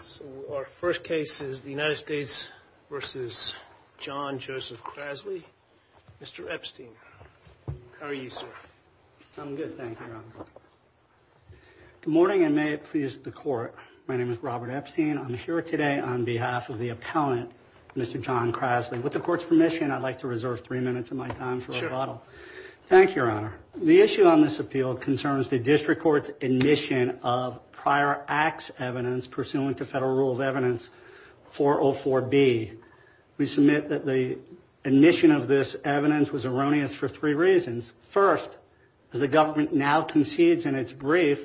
So our first case is the United States v. John Joseph Krasley. Mr. Epstein, how are you, sir? I'm good, thank you, Your Honor. Good morning, and may it please the Court. My name is Robert Epstein. I'm here today on behalf of the appellant, Mr. John Krasley. With the Court's permission, I'd like to reserve three minutes of my time for rebuttal. Thank you, Your Honor. The issue on this appeal concerns the District Court's admission of prior acts evidence pursuant to Federal Rule of Evidence 404B. We submit that the admission of this evidence was erroneous for three reasons. First, as the government now concedes in its brief,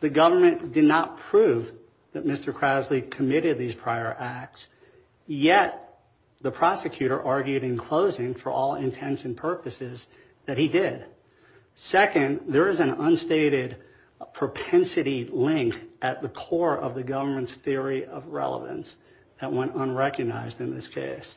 the government did not prove that Mr. Krasley committed these prior acts. Yet, the prosecutor argued in closing, for all intents and purposes, that he did. Second, there is an unstated propensity link at the core of the government's theory of relevance that went unrecognized in this case.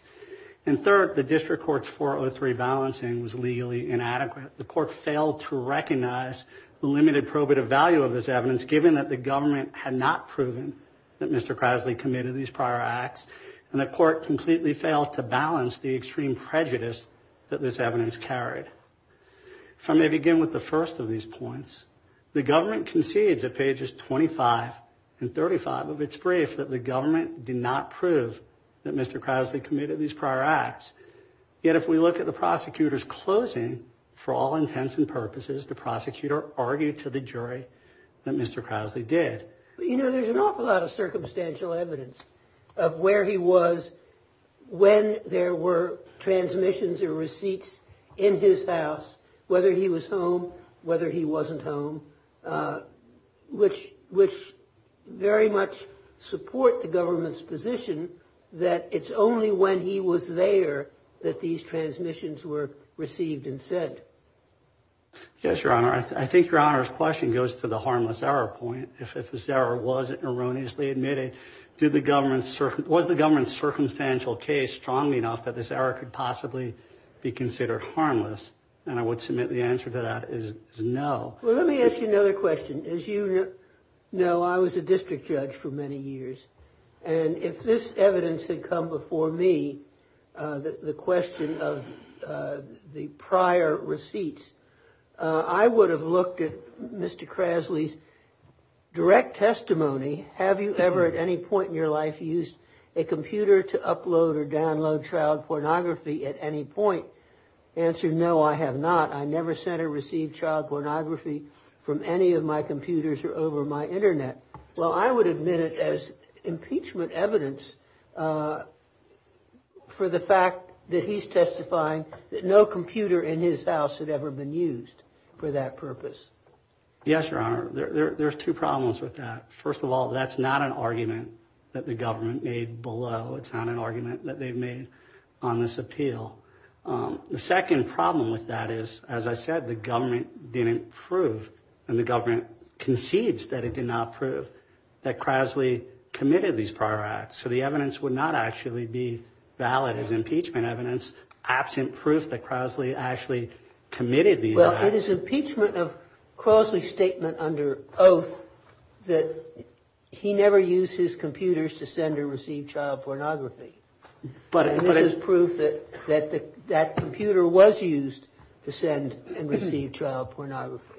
And third, the District Court's 403 balancing was legally inadequate. The Court failed to recognize the limited probative value of this evidence, given that the government had not proven that Mr. Krasley committed these prior acts, and the Court completely failed to balance the extreme prejudice that this evidence carried. If I may begin with the first of these points, the government concedes at pages 25 and 35 of its brief that the government did not prove that Mr. Krasley committed these prior acts. Yet, if we look at the prosecutor's closing, for all intents and purposes, the prosecutor argued to the jury that Mr. Krasley did. You know, there's an awful lot of circumstantial evidence of where he was when there were transmissions or receipts in his house, whether he was home, whether he wasn't home, which very much support the government's position that it's only when he was there that these transmissions were received and sent. Yes, Your Honor. I think Your Honor's question goes to the harmless error point. If this error was erroneously admitted, was the government's circumstantial case strong enough that this error could possibly be considered harmless? And I would submit the answer to that is no. Well, let me ask you another question. As you know, I was a district judge for many years. And if this evidence had come before me, the question of the prior receipts, I would have looked at Mr. Krasley's direct testimony. Have you ever at any point in your life used a computer to upload or download child pornography at any point? Answer, no, I have not. I never sent or received child pornography from any of my computers or over my Internet. Well, I would admit it as impeachment evidence for the fact that he's testifying that no computer in his house had ever been used for that purpose. Yes, Your Honor. There's two problems with that. First of all, that's not an argument that the government made below. It's not an argument that they've made on this appeal. The second problem with that is, as I said, the government didn't prove and the government concedes that it did not prove that Krasley committed these prior acts. So the evidence would not actually be valid as impeachment evidence absent proof that Krasley actually committed these. Well, it is impeachment of Krasley's statement under oath that he never used his computers to send or receive child pornography. But this is proof that that computer was used to send and receive child pornography.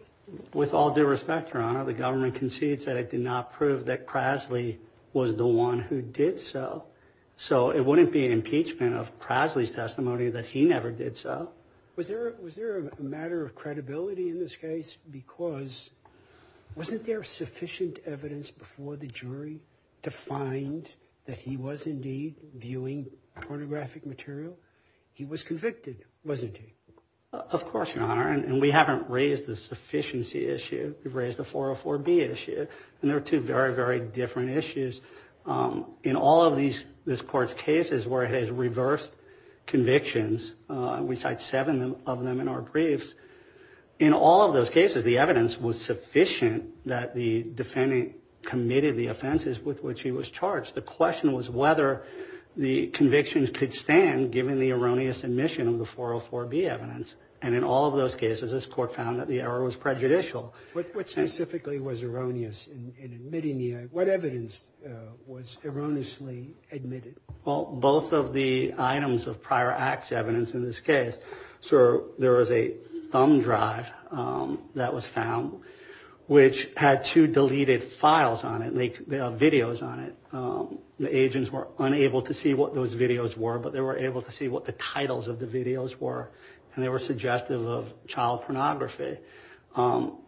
With all due respect, Your Honor, the government concedes that it did not prove that Krasley was the one who did so. So it wouldn't be an impeachment of Krasley's testimony that he never did so. Now, was there was there a matter of credibility in this case? Because wasn't there sufficient evidence before the jury to find that he was indeed viewing pornographic material? He was convicted, wasn't he? Of course, Your Honor. And we haven't raised the sufficiency issue. We've raised the 404 B issue. And there are two very, very different issues in all of these. This court's case is where it has reversed convictions. We cite seven of them in our briefs. In all of those cases, the evidence was sufficient that the defendant committed the offenses with which he was charged. The question was whether the convictions could stand given the erroneous admission of the 404 B evidence. And in all of those cases, this court found that the error was prejudicial. What specifically was erroneous in admitting the error? What evidence was erroneously admitted? Well, both of the items of prior acts evidence in this case. Sir, there was a thumb drive that was found which had two deleted files on it, videos on it. The agents were unable to see what those videos were, but they were able to see what the titles of the videos were. And they were suggestive of child pornography.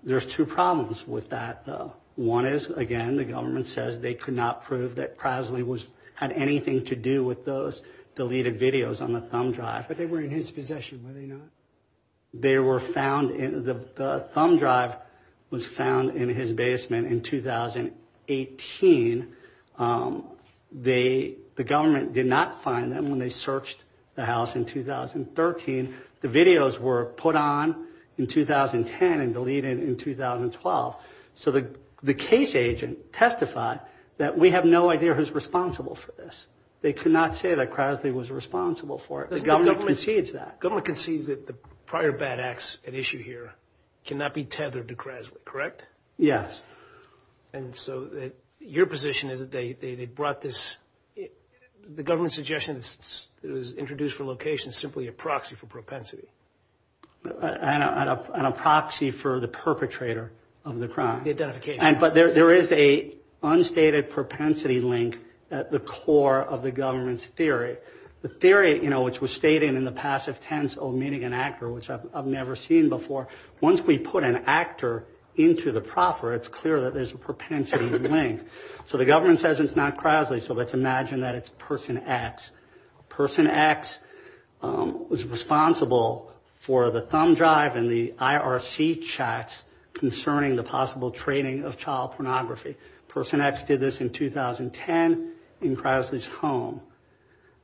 There's two problems with that, though. One is, again, the government says they could not prove that Presley had anything to do with those deleted videos on the thumb drive. But they were in his possession, were they not? The thumb drive was found in his basement in 2018. The government did not find them when they searched the house in 2013. The videos were put on in 2010 and deleted in 2012. So the case agent testified that we have no idea who's responsible for this. They could not say that Presley was responsible for it. The government concedes that. The government concedes that the prior bad acts at issue here cannot be tethered to Presley, correct? Yes. And so your position is that they brought this, the government's suggestion that it was introduced for location, simply a proxy for propensity. And a proxy for the perpetrator of the crime. The identification. But there is a unstated propensity link at the core of the government's theory. The theory, you know, which was stated in the passive tense of meeting an actor, which I've never seen before, once we put an actor into the proffer, it's clear that there's a propensity link. So the government says it's not Presley, so let's imagine that it's Person X. Person X was responsible for the thumb drive and the IRC checks concerning the possible trading of child pornography. Person X did this in 2010 in Presley's home.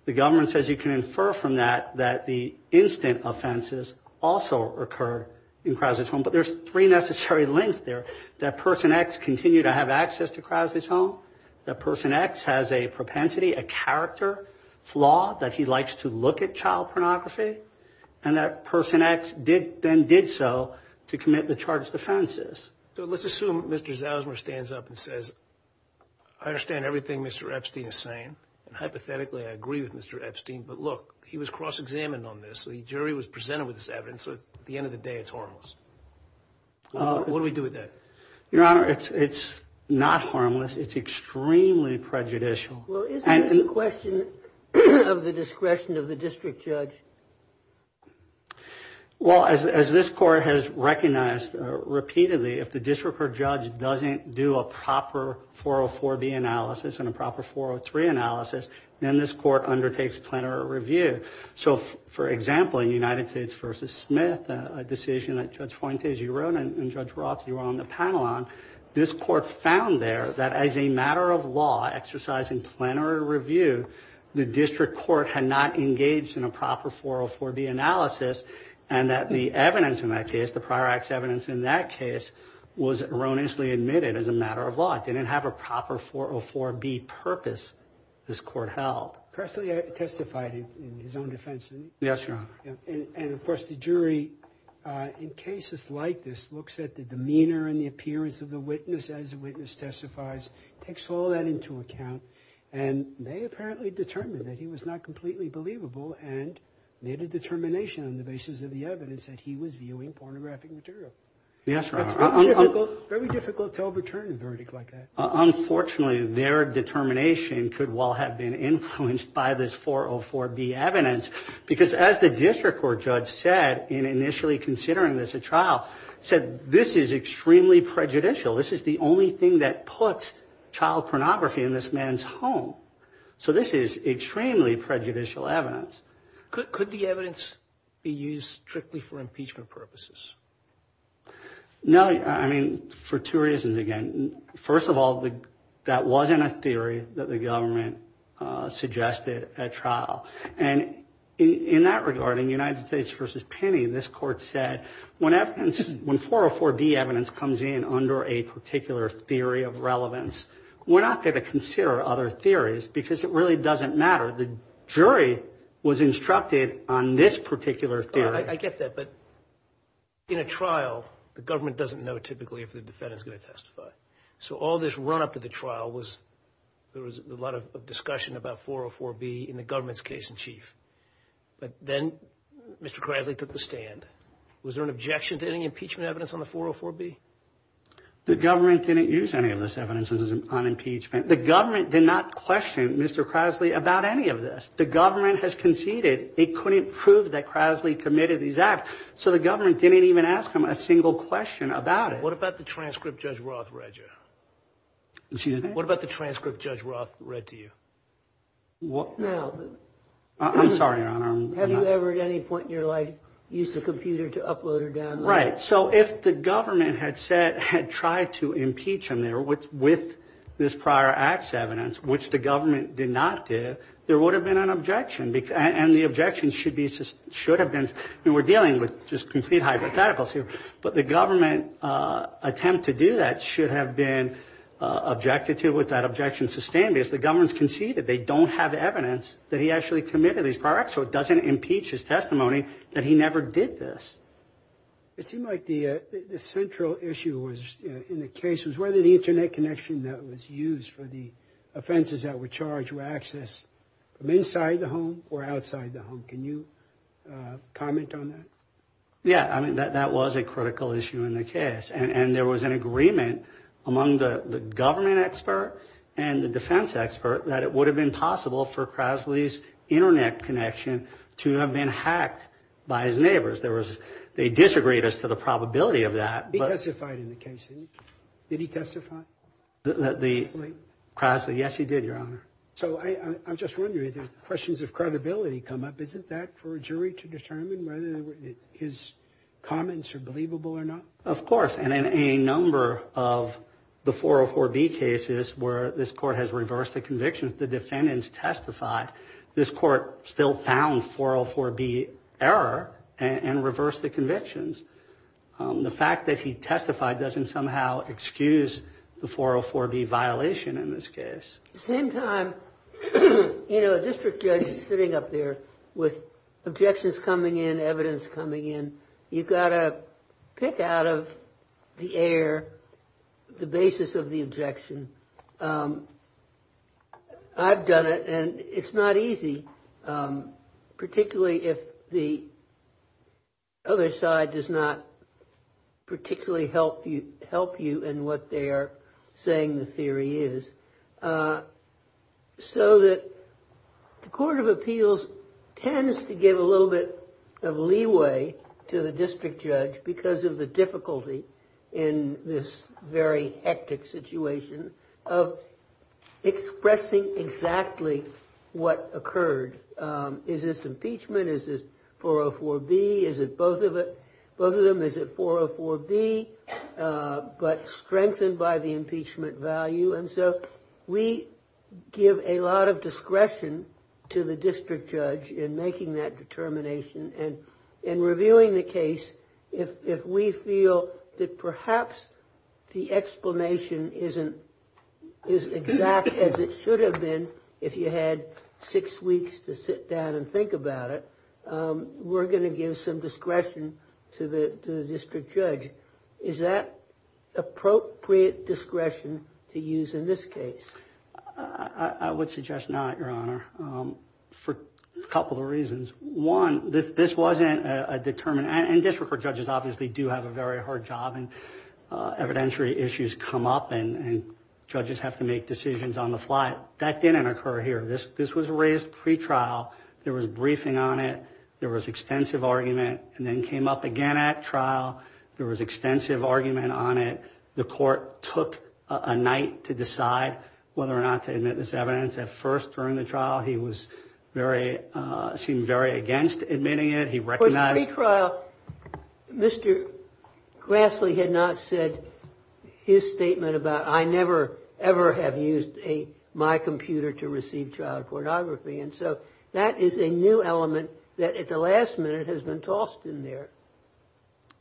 The government says you can infer from that that the instant offenses also occurred in Presley's home. But there's three necessary links there. That Person X continued to have access to Presley's home. That Person X has a propensity, a character flaw that he likes to look at child pornography. And that Person X then did so to commit the charged offenses. So let's assume Mr. Zosmer stands up and says, I understand everything Mr. Epstein is saying. And hypothetically, I agree with Mr. Epstein. But look, he was cross-examined on this. The jury was presented with this evidence. At the end of the day, it's harmless. What do we do with that? Your Honor, it's not harmless. It's extremely prejudicial. Well, isn't it a question of the discretion of the district judge? Well, as this court has recognized repeatedly, if the district court judge doesn't do a proper 404B analysis and a proper 403 analysis, then this court undertakes plenary review. So, for example, in United States v. Smith, a decision that Judge Fuentes, you wrote, and Judge Roth, you were on the panel on, this court found there that as a matter of law exercising plenary review, the district court had not engaged in a proper 404B analysis, and that the evidence in that case, the prior act's evidence in that case, was erroneously admitted as a matter of law. It didn't have a proper 404B purpose this court held. Presley testified in his own defense, didn't he? Yes, Your Honor. And, of course, the jury, in cases like this, looks at the demeanor and the appearance of the witness as the witness testifies, takes all that into account, and they apparently determined that he was not completely believable and made a determination on the basis of the evidence that he was viewing pornographic material. Yes, Your Honor. It's very difficult to overturn a verdict like that. Unfortunately, their determination could well have been influenced by this 404B evidence because, as the district court judge said in initially considering this at trial, said this is extremely prejudicial. This is the only thing that puts child pornography in this man's home. So this is extremely prejudicial evidence. Could the evidence be used strictly for impeachment purposes? No. I mean, for two reasons, again. First of all, that wasn't a theory that the government suggested at trial. And in that regard, in United States v. Penny, this court said when 404B evidence comes in under a particular theory of relevance, we're not going to consider other theories because it really doesn't matter. The jury was instructed on this particular theory. I get that. But in a trial, the government doesn't know typically if the defendant is going to testify. So all this run-up to the trial was there was a lot of discussion about 404B in the government's case in chief. But then Mr. Krasny took the stand. Was there an objection to any impeachment evidence on the 404B? The government didn't use any of this evidence on impeachment. The government did not question Mr. Krasny about any of this. The government has conceded it couldn't prove that Krasny committed these acts, so the government didn't even ask him a single question about it. What about the transcript Judge Roth read you? Excuse me? What about the transcript Judge Roth read to you? I'm sorry, Your Honor. Have you ever at any point in your life used a computer to upload or download? Right. So if the government had said, had tried to impeach him there with this prior acts evidence, which the government did not do, there would have been an objection. And the objection should have been, and we're dealing with just complete hypotheticals here, but the government attempt to do that should have been objected to with that objection sustained because the government has conceded they don't have evidence that he actually committed these prior acts, so it doesn't impeach his testimony that he never did this. It seemed like the central issue in the case was whether the Internet connection that was used for the offenses that were charged were accessed from inside the home or outside the home. Can you comment on that? Yeah. I mean, that was a critical issue in the case. And there was an agreement among the government expert and the defense expert that it would have been possible for Crosley's Internet connection to have been hacked by his neighbors. They disagreed as to the probability of that. He testified in the case. Did he testify? Crosley? Yes, he did, Your Honor. So I'm just wondering, the questions of credibility come up. Isn't that for a jury to determine whether his comments are believable or not? Of course. And in a number of the 404B cases where this court has reversed the convictions, the defendants testified, this court still found 404B error and reversed the convictions. The fact that he testified doesn't somehow excuse the 404B violation in this case. At the same time, you know, a district judge is sitting up there with objections coming in, evidence coming in. You've got to pick out of the air the basis of the objection. I've done it, and it's not easy, particularly if the other side does not particularly help you in what they are saying the theory is. So that the Court of Appeals tends to give a little bit of leeway to the district judge because of the difficulty in this very hectic situation of expressing exactly what occurred. Is this impeachment? Is this 404B? Is it both of them? Is it 404B but strengthened by the impeachment value? And so we give a lot of discretion to the district judge in making that determination. And in reviewing the case, if we feel that perhaps the explanation isn't as exact as it should have been, if you had six weeks to sit down and think about it, we're going to give some discretion to the district judge. Is that appropriate discretion to use in this case? I would suggest not, Your Honor, for a couple of reasons. One, this wasn't a determined, and district judges obviously do have a very hard job, and evidentiary issues come up, and judges have to make decisions on the fly. That didn't occur here. This was raised pretrial. There was briefing on it. There was extensive argument, and then came up again at trial. There was extensive argument on it. The court took a night to decide whether or not to admit this evidence. At first during the trial, he seemed very against admitting it. He recognized it. But in the pre-trial, Mr. Grassley had not said his statement about, I never, ever have used my computer to receive child pornography. And so that is a new element that at the last minute has been tossed in there.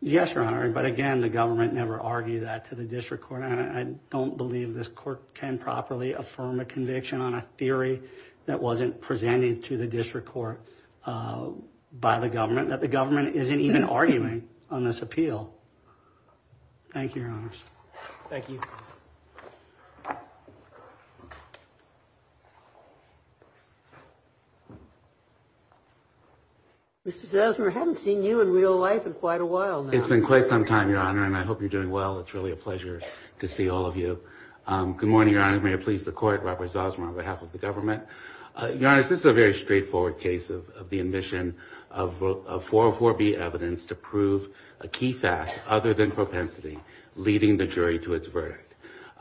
Yes, Your Honor, but again, the government never argued that to the district court. I don't believe this court can properly affirm a conviction on a theory that wasn't presented to the district court by the government, that the government isn't even arguing on this appeal. Thank you, Your Honors. Thank you. Mr. Zosmer, I haven't seen you in real life in quite a while now. It's been quite some time, Your Honor, and I hope you're doing well. It's really a pleasure to see all of you. Good morning, Your Honor. May it please the court, Robert Zosmer on behalf of the government. Your Honor, this is a very straightforward case of the admission of 404B evidence to prove a key fact other than propensity, leading the jury to its verdict.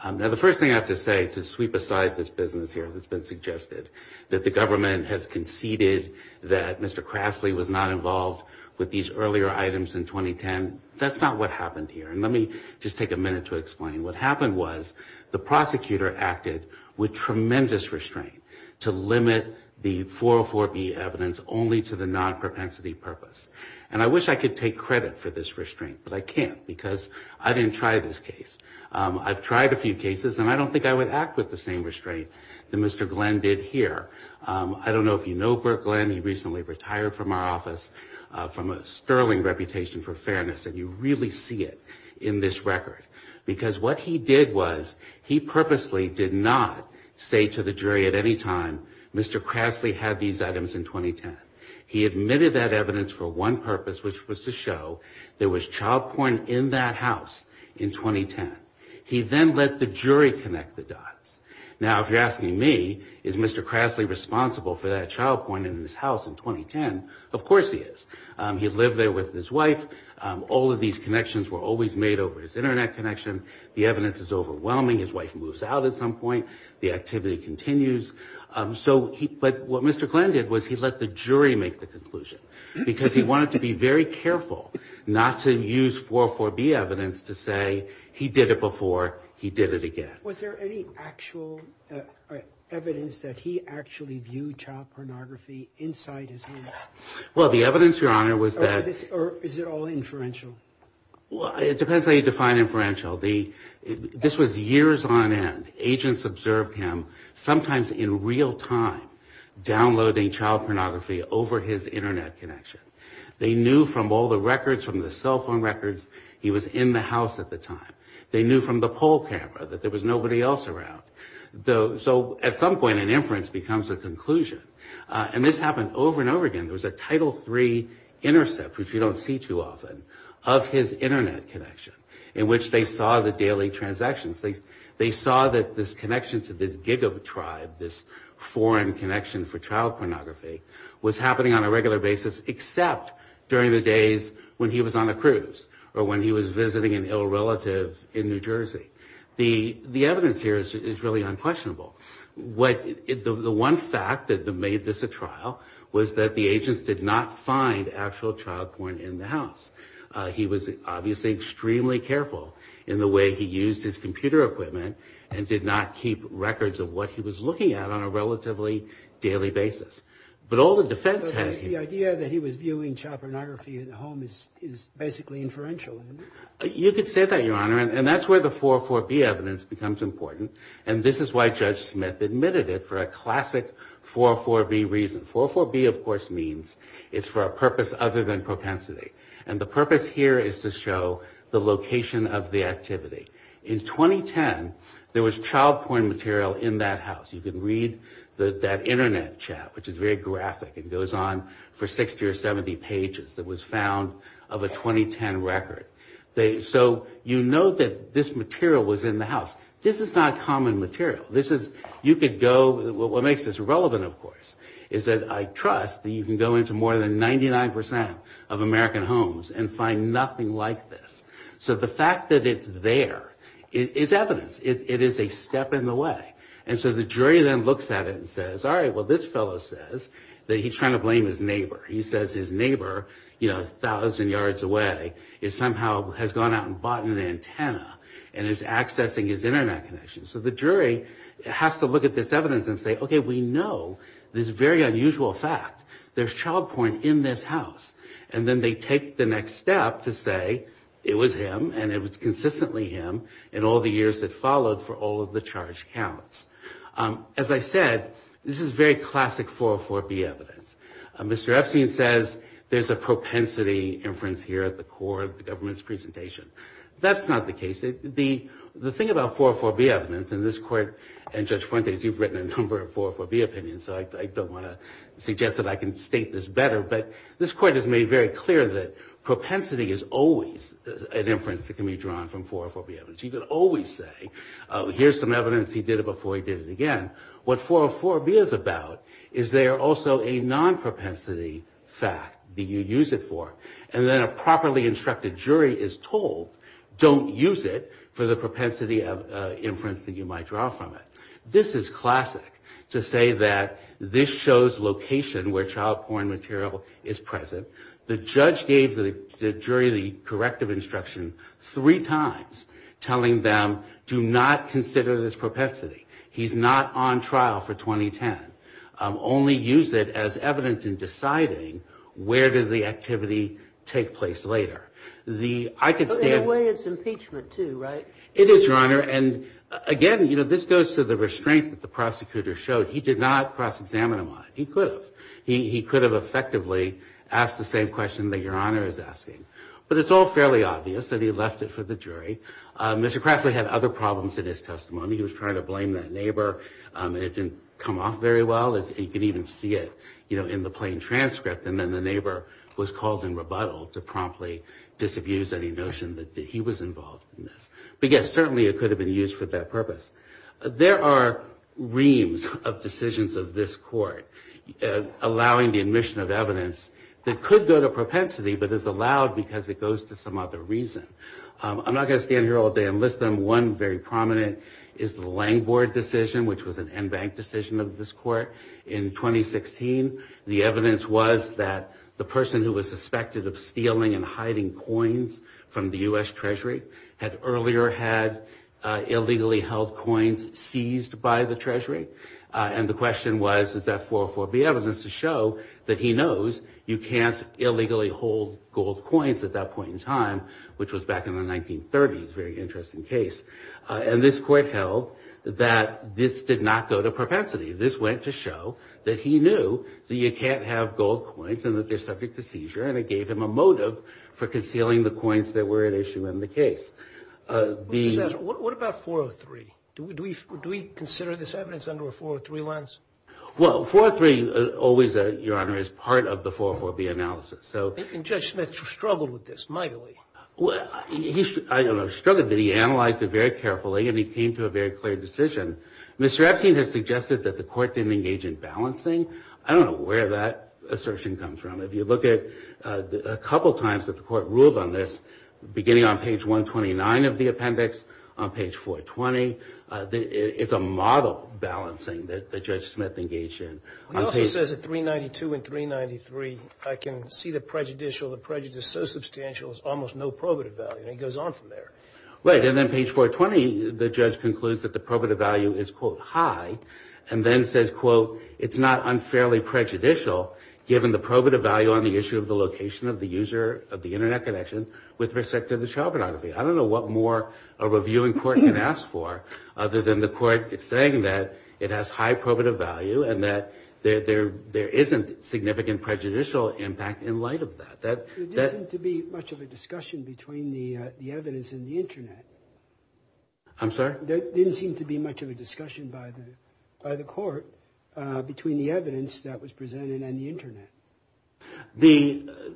Now, the first thing I have to say to sweep aside this business here that's been suggested, that the government has conceded that Mr. Grassley was not involved with these earlier items in 2010, that's not what happened here, and let me just take a minute to explain. What happened was the prosecutor acted with tremendous restraint to limit the 404B evidence only to the non-propensity purpose. And I wish I could take credit for this restraint, but I can't because I didn't try this case. I've tried a few cases, and I don't think I would act with the same restraint that Mr. Glenn did here. I don't know if you know Burt Glenn. He recently retired from our office from a sterling reputation for fairness, and you really see it in this record because what he did was he purposely did not say to the jury at any time, Mr. Grassley had these items in 2010. He admitted that evidence for one purpose, which was to show there was child porn in that house in 2010. He then let the jury connect the dots. Now, if you're asking me, is Mr. Grassley responsible for that child porn in his house in 2010, of course he is. He lived there with his wife. All of these connections were always made over his Internet connection. The evidence is overwhelming. His wife moves out at some point. The activity continues. But what Mr. Glenn did was he let the jury make the conclusion because he wanted to be very careful not to use 404B evidence to say he did it before, he did it again. Was there any actual evidence that he actually viewed child pornography inside his home? Well, the evidence, Your Honor, was that... Or is it all inferential? Well, it depends how you define inferential. This was years on end. Agents observed him, sometimes in real time, downloading child pornography over his Internet connection. They knew from all the records, from the cell phone records, he was in the house at the time. They knew from the poll camera that there was nobody else around. So at some point, an inference becomes a conclusion. And this happened over and over again. There was a Title III intercept, which you don't see too often, of his Internet connection, in which they saw the daily transactions. They saw that this connection to this giga-tribe, this foreign connection for child pornography, was happening on a regular basis except during the days when he was on a cruise or when he was visiting an ill relative in New Jersey. The evidence here is really unquestionable. The one fact that made this a trial was that the agents did not find actual child porn in the house. He was obviously extremely careful in the way he used his computer equipment and did not keep records of what he was looking at on a relatively daily basis. But all the defense had... The idea that he was viewing child pornography in the home is basically inferential. You could say that, Your Honor. And that's where the 404B evidence becomes important. And this is why Judge Smith admitted it for a classic 404B reason. 404B, of course, means it's for a purpose other than propensity. And the purpose here is to show the location of the activity. In 2010, there was child porn material in that house. You can read that internet chat, which is very graphic and goes on for 60 or 70 pages, that was found of a 2010 record. So you know that this material was in the house. This is not common material. You could go... What makes this relevant, of course, is that I trust that you can go into more than 99% of American homes and find nothing like this. So the fact that it's there is evidence. It is a step in the way. And so the jury then looks at it and says, All right, well, this fellow says that he's trying to blame his neighbor. He says his neighbor, you know, a thousand yards away, somehow has gone out and bought an antenna and is accessing his internet connection. So the jury has to look at this evidence and say, Okay, we know this very unusual fact. There's child porn in this house. And then they take the next step to say it was him and it was consistently him in all the years that followed for all of the charge counts. As I said, this is very classic 404B evidence. Mr. Epstein says there's a propensity inference here at the core of the government's presentation. That's not the case. The thing about 404B evidence, and this court and Judge Fuentes, you've written a number of 404B opinions, so I don't want to suggest that I can state this better, but this court has made very clear that propensity is always an inference that can be drawn from 404B evidence. You can always say, Oh, here's some evidence. He did it before he did it again. What 404B is about is they are also a non-propensity fact that you use it for. And then a properly instructed jury is told, Don't use it for the propensity inference that you might draw from it. This is classic to say that this shows location where child porn material is present. The judge gave the jury the corrective instruction three times telling them, Do not consider this propensity. He's not on trial for 2010. Only use it as evidence in deciding where did the activity take place later. I could stand... It is, Your Honor. Again, this goes to the restraint that the prosecutor showed. He did not cross-examine him on it. He could have. He could have effectively asked the same question that Your Honor is asking. But it's all fairly obvious that he left it for the jury. Mr. Crassley had other problems in his testimony. He was trying to blame that neighbor. It didn't come off very well. You can even see it in the plain transcript. And then the neighbor was called in rebuttal to promptly disabuse any notion that he was involved in this. But, yes, certainly it could have been used for that purpose. There are reams of decisions of this court allowing the admission of evidence that could go to propensity but is allowed because it goes to some other reason. I'm not going to stand here all day and list them. One very prominent is the Langbord decision, which was an en banc decision of this court. In 2016, the evidence was that the person who was suspected of stealing and hiding coins from the U.S. Treasury had earlier had illegally held coins seized by the Treasury. And the question was, is that 404B evidence to show that he knows you can't illegally hold gold coins at that point in time, which was back in the 1930s, a very interesting case. And this court held that this did not go to propensity. This went to show that he knew that you can't have gold coins and that they're subject to seizure. And it gave him a motive for concealing the coins that were at issue in the case. What about 403? Do we consider this evidence under a 403 lens? Well, 403 always, Your Honor, is part of the 404B analysis. And Judge Smith struggled with this mightily. He struggled, but he analyzed it very carefully and he came to a very clear decision. Mr. Epstein has suggested that the court didn't engage in balancing. I don't know where that assertion comes from. If you look at a couple times that the court ruled on this, beginning on page 129 of the appendix, on page 420, it's a model balancing that Judge Smith engaged in. He also says at 392 and 393, I can see the prejudicial, the prejudice is so substantial there's almost no probative value. And he goes on from there. Right. And then page 420, the judge concludes that the probative value is, quote, high, and then says, quote, it's not unfairly prejudicial given the probative value on the issue of the location of the user of the Internet connection with respect to the child pornography. I don't know what more a reviewing court can ask for other than the court saying that it has high probative value and that there isn't significant prejudicial impact in light of that. There didn't seem to be much of a discussion between the evidence and the Internet. I'm sorry? There didn't seem to be much of a discussion by the court between the evidence that was presented and the Internet.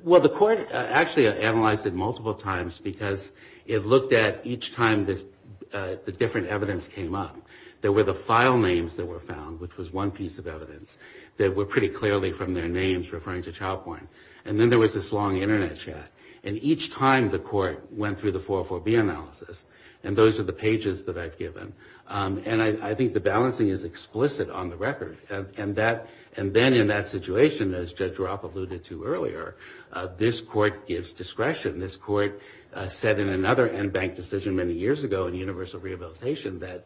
Well, the court actually analyzed it multiple times because it looked at each time the different evidence came up. There were the file names that were found, which was one piece of evidence, that were pretty clearly from their names referring to child porn. And then there was this long Internet chat. And each time the court went through the 404B analysis, and those are the pages that I've given, and I think the balancing is explicit on the record. And then in that situation, as Judge Ropp alluded to earlier, this court gives discretion. This court said in another NBANC decision many years ago in universal rehabilitation that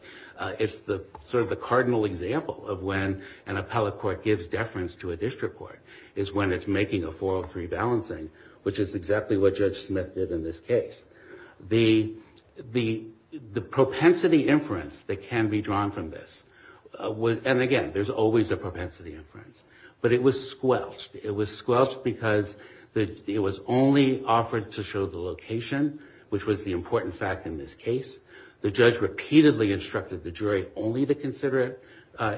it's sort of the cardinal example of when an appellate court gives deference to a district court, is when it's making a 403 balancing, which is exactly what Judge Smith did in this case. The propensity inference that can be drawn from this, and again, there's always a propensity inference, but it was squelched. It was squelched because it was only offered to show the location, which was the important fact in this case. The judge repeatedly instructed the jury only to consider it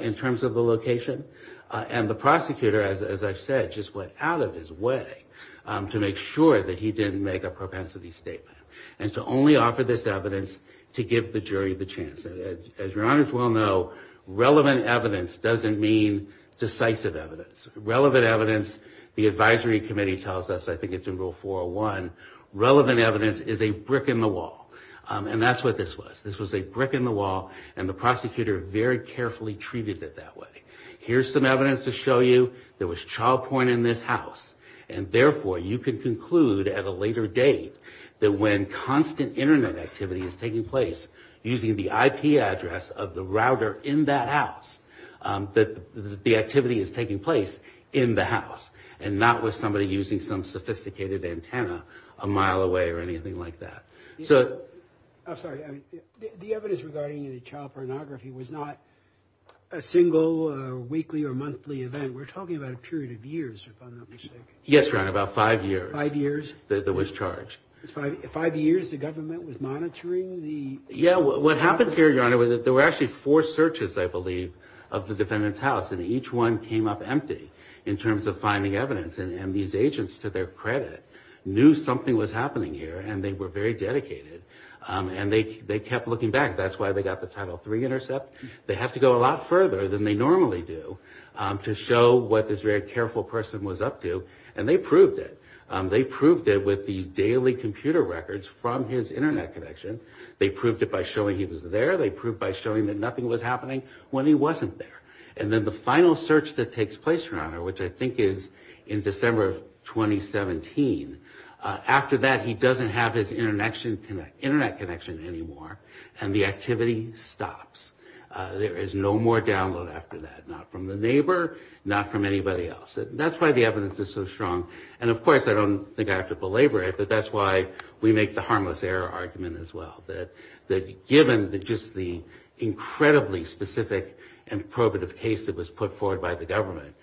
in terms of the location. And the prosecutor, as I've said, just went out of his way to make sure that he didn't make a propensity statement. And to only offer this evidence to give the jury the chance. As your honors well know, relevant evidence doesn't mean decisive evidence. Relevant evidence, the advisory committee tells us, I think it's in rule 401, relevant evidence is a brick in the wall. And that's what this was. This was a brick in the wall, and the prosecutor very carefully treated it that way. Here's some evidence to show you, there was child porn in this house. And therefore, you could conclude at a later date, that when constant internet activity is taking place, using the IP address of the router in that house, that the activity is taking place in the house. And not with somebody using some sophisticated antenna a mile away or anything like that. I'm sorry, the evidence regarding the child pornography was not a single weekly or monthly event. We're talking about a period of years, if I'm not mistaken. Yes, your honor, about five years. Five years? That was charged. Five years the government was monitoring the... Yeah, what happened here, your honor, was that there were actually four searches, I believe, of the defendant's house. And each one came up empty in terms of finding evidence. And these agents, to their credit, knew something was happening here, and they were very dedicated. And they kept looking back. That's why they got the Title III intercept. They have to go a lot further than they normally do to show what this very careful person was up to. And they proved it. They proved it with these daily computer records from his internet connection. They proved it by showing he was there. They proved it by showing that nothing was happening when he wasn't there. And then the final search that takes place, your honor, which I think is in December of 2017, after that he doesn't have his internet connection anymore, and the activity stops. There is no more download after that, not from the neighbor, not from anybody else. That's why the evidence is so strong. And, of course, I don't think I have to belabor it, but that's why we make the harmless error argument as well, that given just the incredibly specific and probative case that was put forward by the government,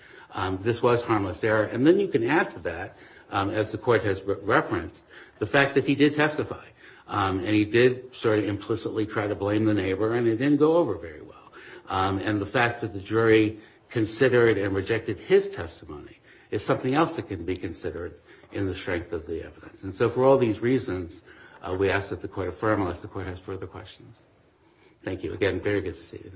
this was harmless error. And then you can add to that, as the court has referenced, the fact that he did testify. And he did sort of implicitly try to blame the neighbor, and it didn't go over very well. And the fact that the jury considered and rejected his testimony is something else that can be considered in the strength of the evidence. And so for all these reasons, we ask that the court affirm unless the court has further questions. Thank you. Again, very good to see you.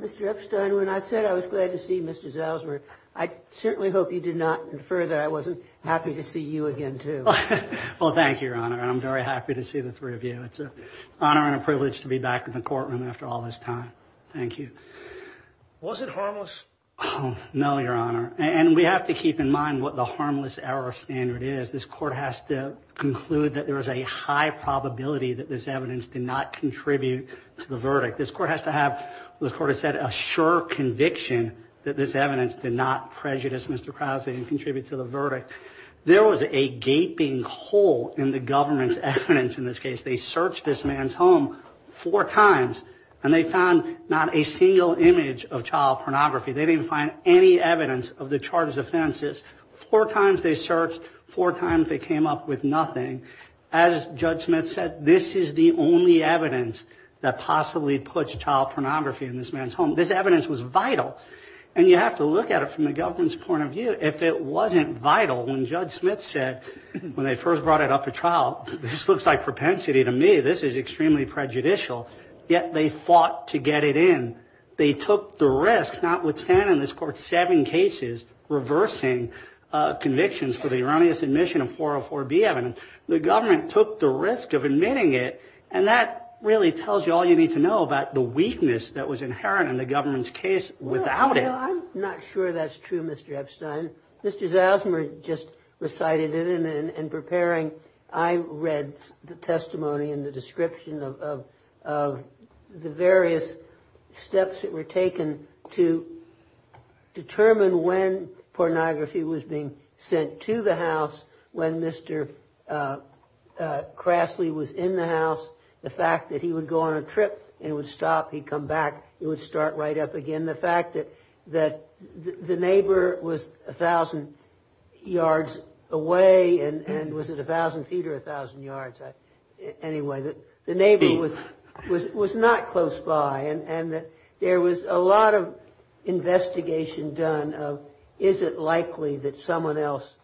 Mr. Epstein, when I said I was glad to see Mr. Zalesworth, I certainly hope you did not infer that I wasn't happy to see you again, too. Well, thank you, your honor, and I'm very happy to see the three of you. It's an honor and a privilege to be back in the courtroom after all this time. Thank you. Was it harmless? No, your honor. And we have to keep in mind what the harmless error standard is. This court has to conclude that there is a high probability that this evidence did not contribute to the verdict. This court has to have, as the court has said, a sure conviction that this evidence did not prejudice Mr. Krause and contribute to the verdict. There was a gaping hole in the government's evidence in this case. They searched this man's home four times, and they found not a single image of child pornography. They didn't find any evidence of the charges offenses. Four times they searched, four times they came up with nothing. As Judge Smith said, this is the only evidence that possibly puts child pornography in this man's home. This evidence was vital, and you have to look at it from the government's point of view. If it wasn't vital, when Judge Smith said when they first brought it up for trial, this looks like propensity to me, this is extremely prejudicial, yet they fought to get it in. They took the risk, notwithstanding this court's seven cases reversing convictions for the erroneous admission of 404B evidence. The government took the risk of admitting it, and that really tells you all you need to know about the weakness that was inherent in the government's case without it. I'm not sure that's true, Mr. Epstein. Mr. Zalzmer just recited it, and in preparing, I read the testimony and the description of the various steps that were taken to determine when pornography was being sent to the house, when Mr. Crassley was in the house. The fact that he would go on a trip, and he would stop, he'd come back, it would start right up again. And the fact that the neighbor was 1,000 yards away, and was it 1,000 feet or 1,000 yards? Anyway, the neighbor was not close by, and there was a lot of investigation done of, is it likely that someone else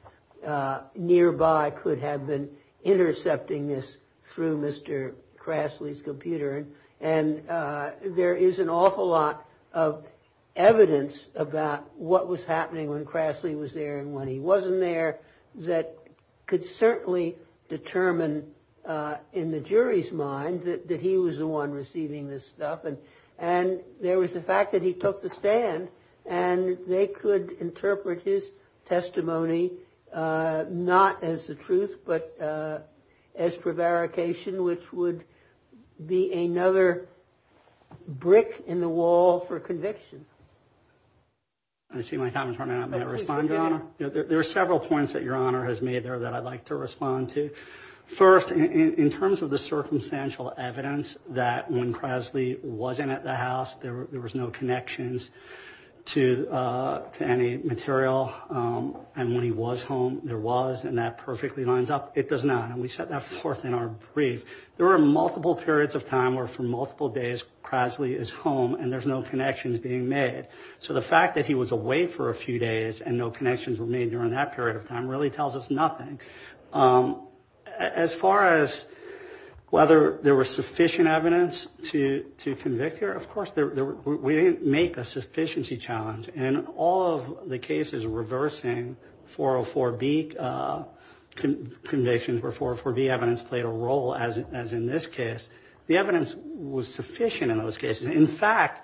nearby could have been intercepting this through Mr. Crassley's computer? And there is an awful lot of evidence about what was happening when Crassley was there and when he wasn't there that could certainly determine in the jury's mind that he was the one receiving this stuff. And there was the fact that he took the stand, and they could interpret his testimony not as the truth, but as prevarication, which would be another brick in the wall for conviction. I see my comments running out. May I respond, Your Honor? There are several points that Your Honor has made there that I'd like to respond to. First, in terms of the circumstantial evidence that when Crassley wasn't at the house, there was no connections to any material, and when he was home, there was, and that perfectly lines up. It does not, and we set that forth in our brief. There were multiple periods of time where, for multiple days, Crassley is home and there's no connections being made. So the fact that he was away for a few days and no connections were made during that period of time really tells us nothing. As far as whether there was sufficient evidence to convict here, of course, we didn't make a sufficiency challenge. In all of the cases reversing 404B convictions where 404B evidence played a role, as in this case, the evidence was sufficient in those cases. In fact,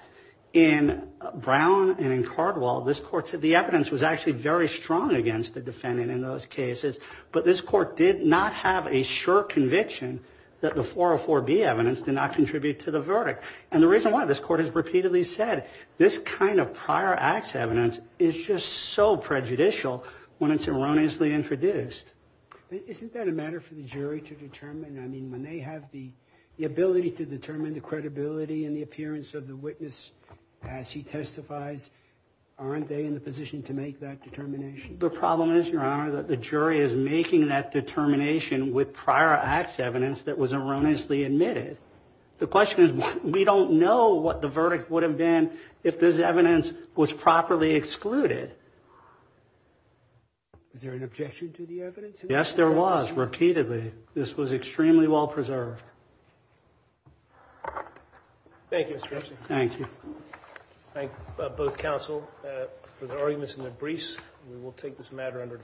in Brown and in Cardwell, this Court said the evidence was actually very strong against the defendant in those cases, but this Court did not have a sure conviction that the 404B evidence did not contribute to the verdict. And the reason why this Court has repeatedly said this kind of prior acts evidence is just so prejudicial when it's erroneously introduced. Isn't that a matter for the jury to determine? I mean, when they have the ability to determine the credibility and the appearance of the witness as he testifies, aren't they in the position to make that determination? The problem is, Your Honor, that the jury is making that determination with prior acts evidence that was erroneously admitted. The question is, we don't know what the verdict would have been if this evidence was properly excluded. Is there an objection to the evidence? Yes, there was, repeatedly. This was extremely well preserved. Thank you, Mr. Epstein. Thank you. I thank both counsel for their arguments and their briefs. We will take this matter under advisement.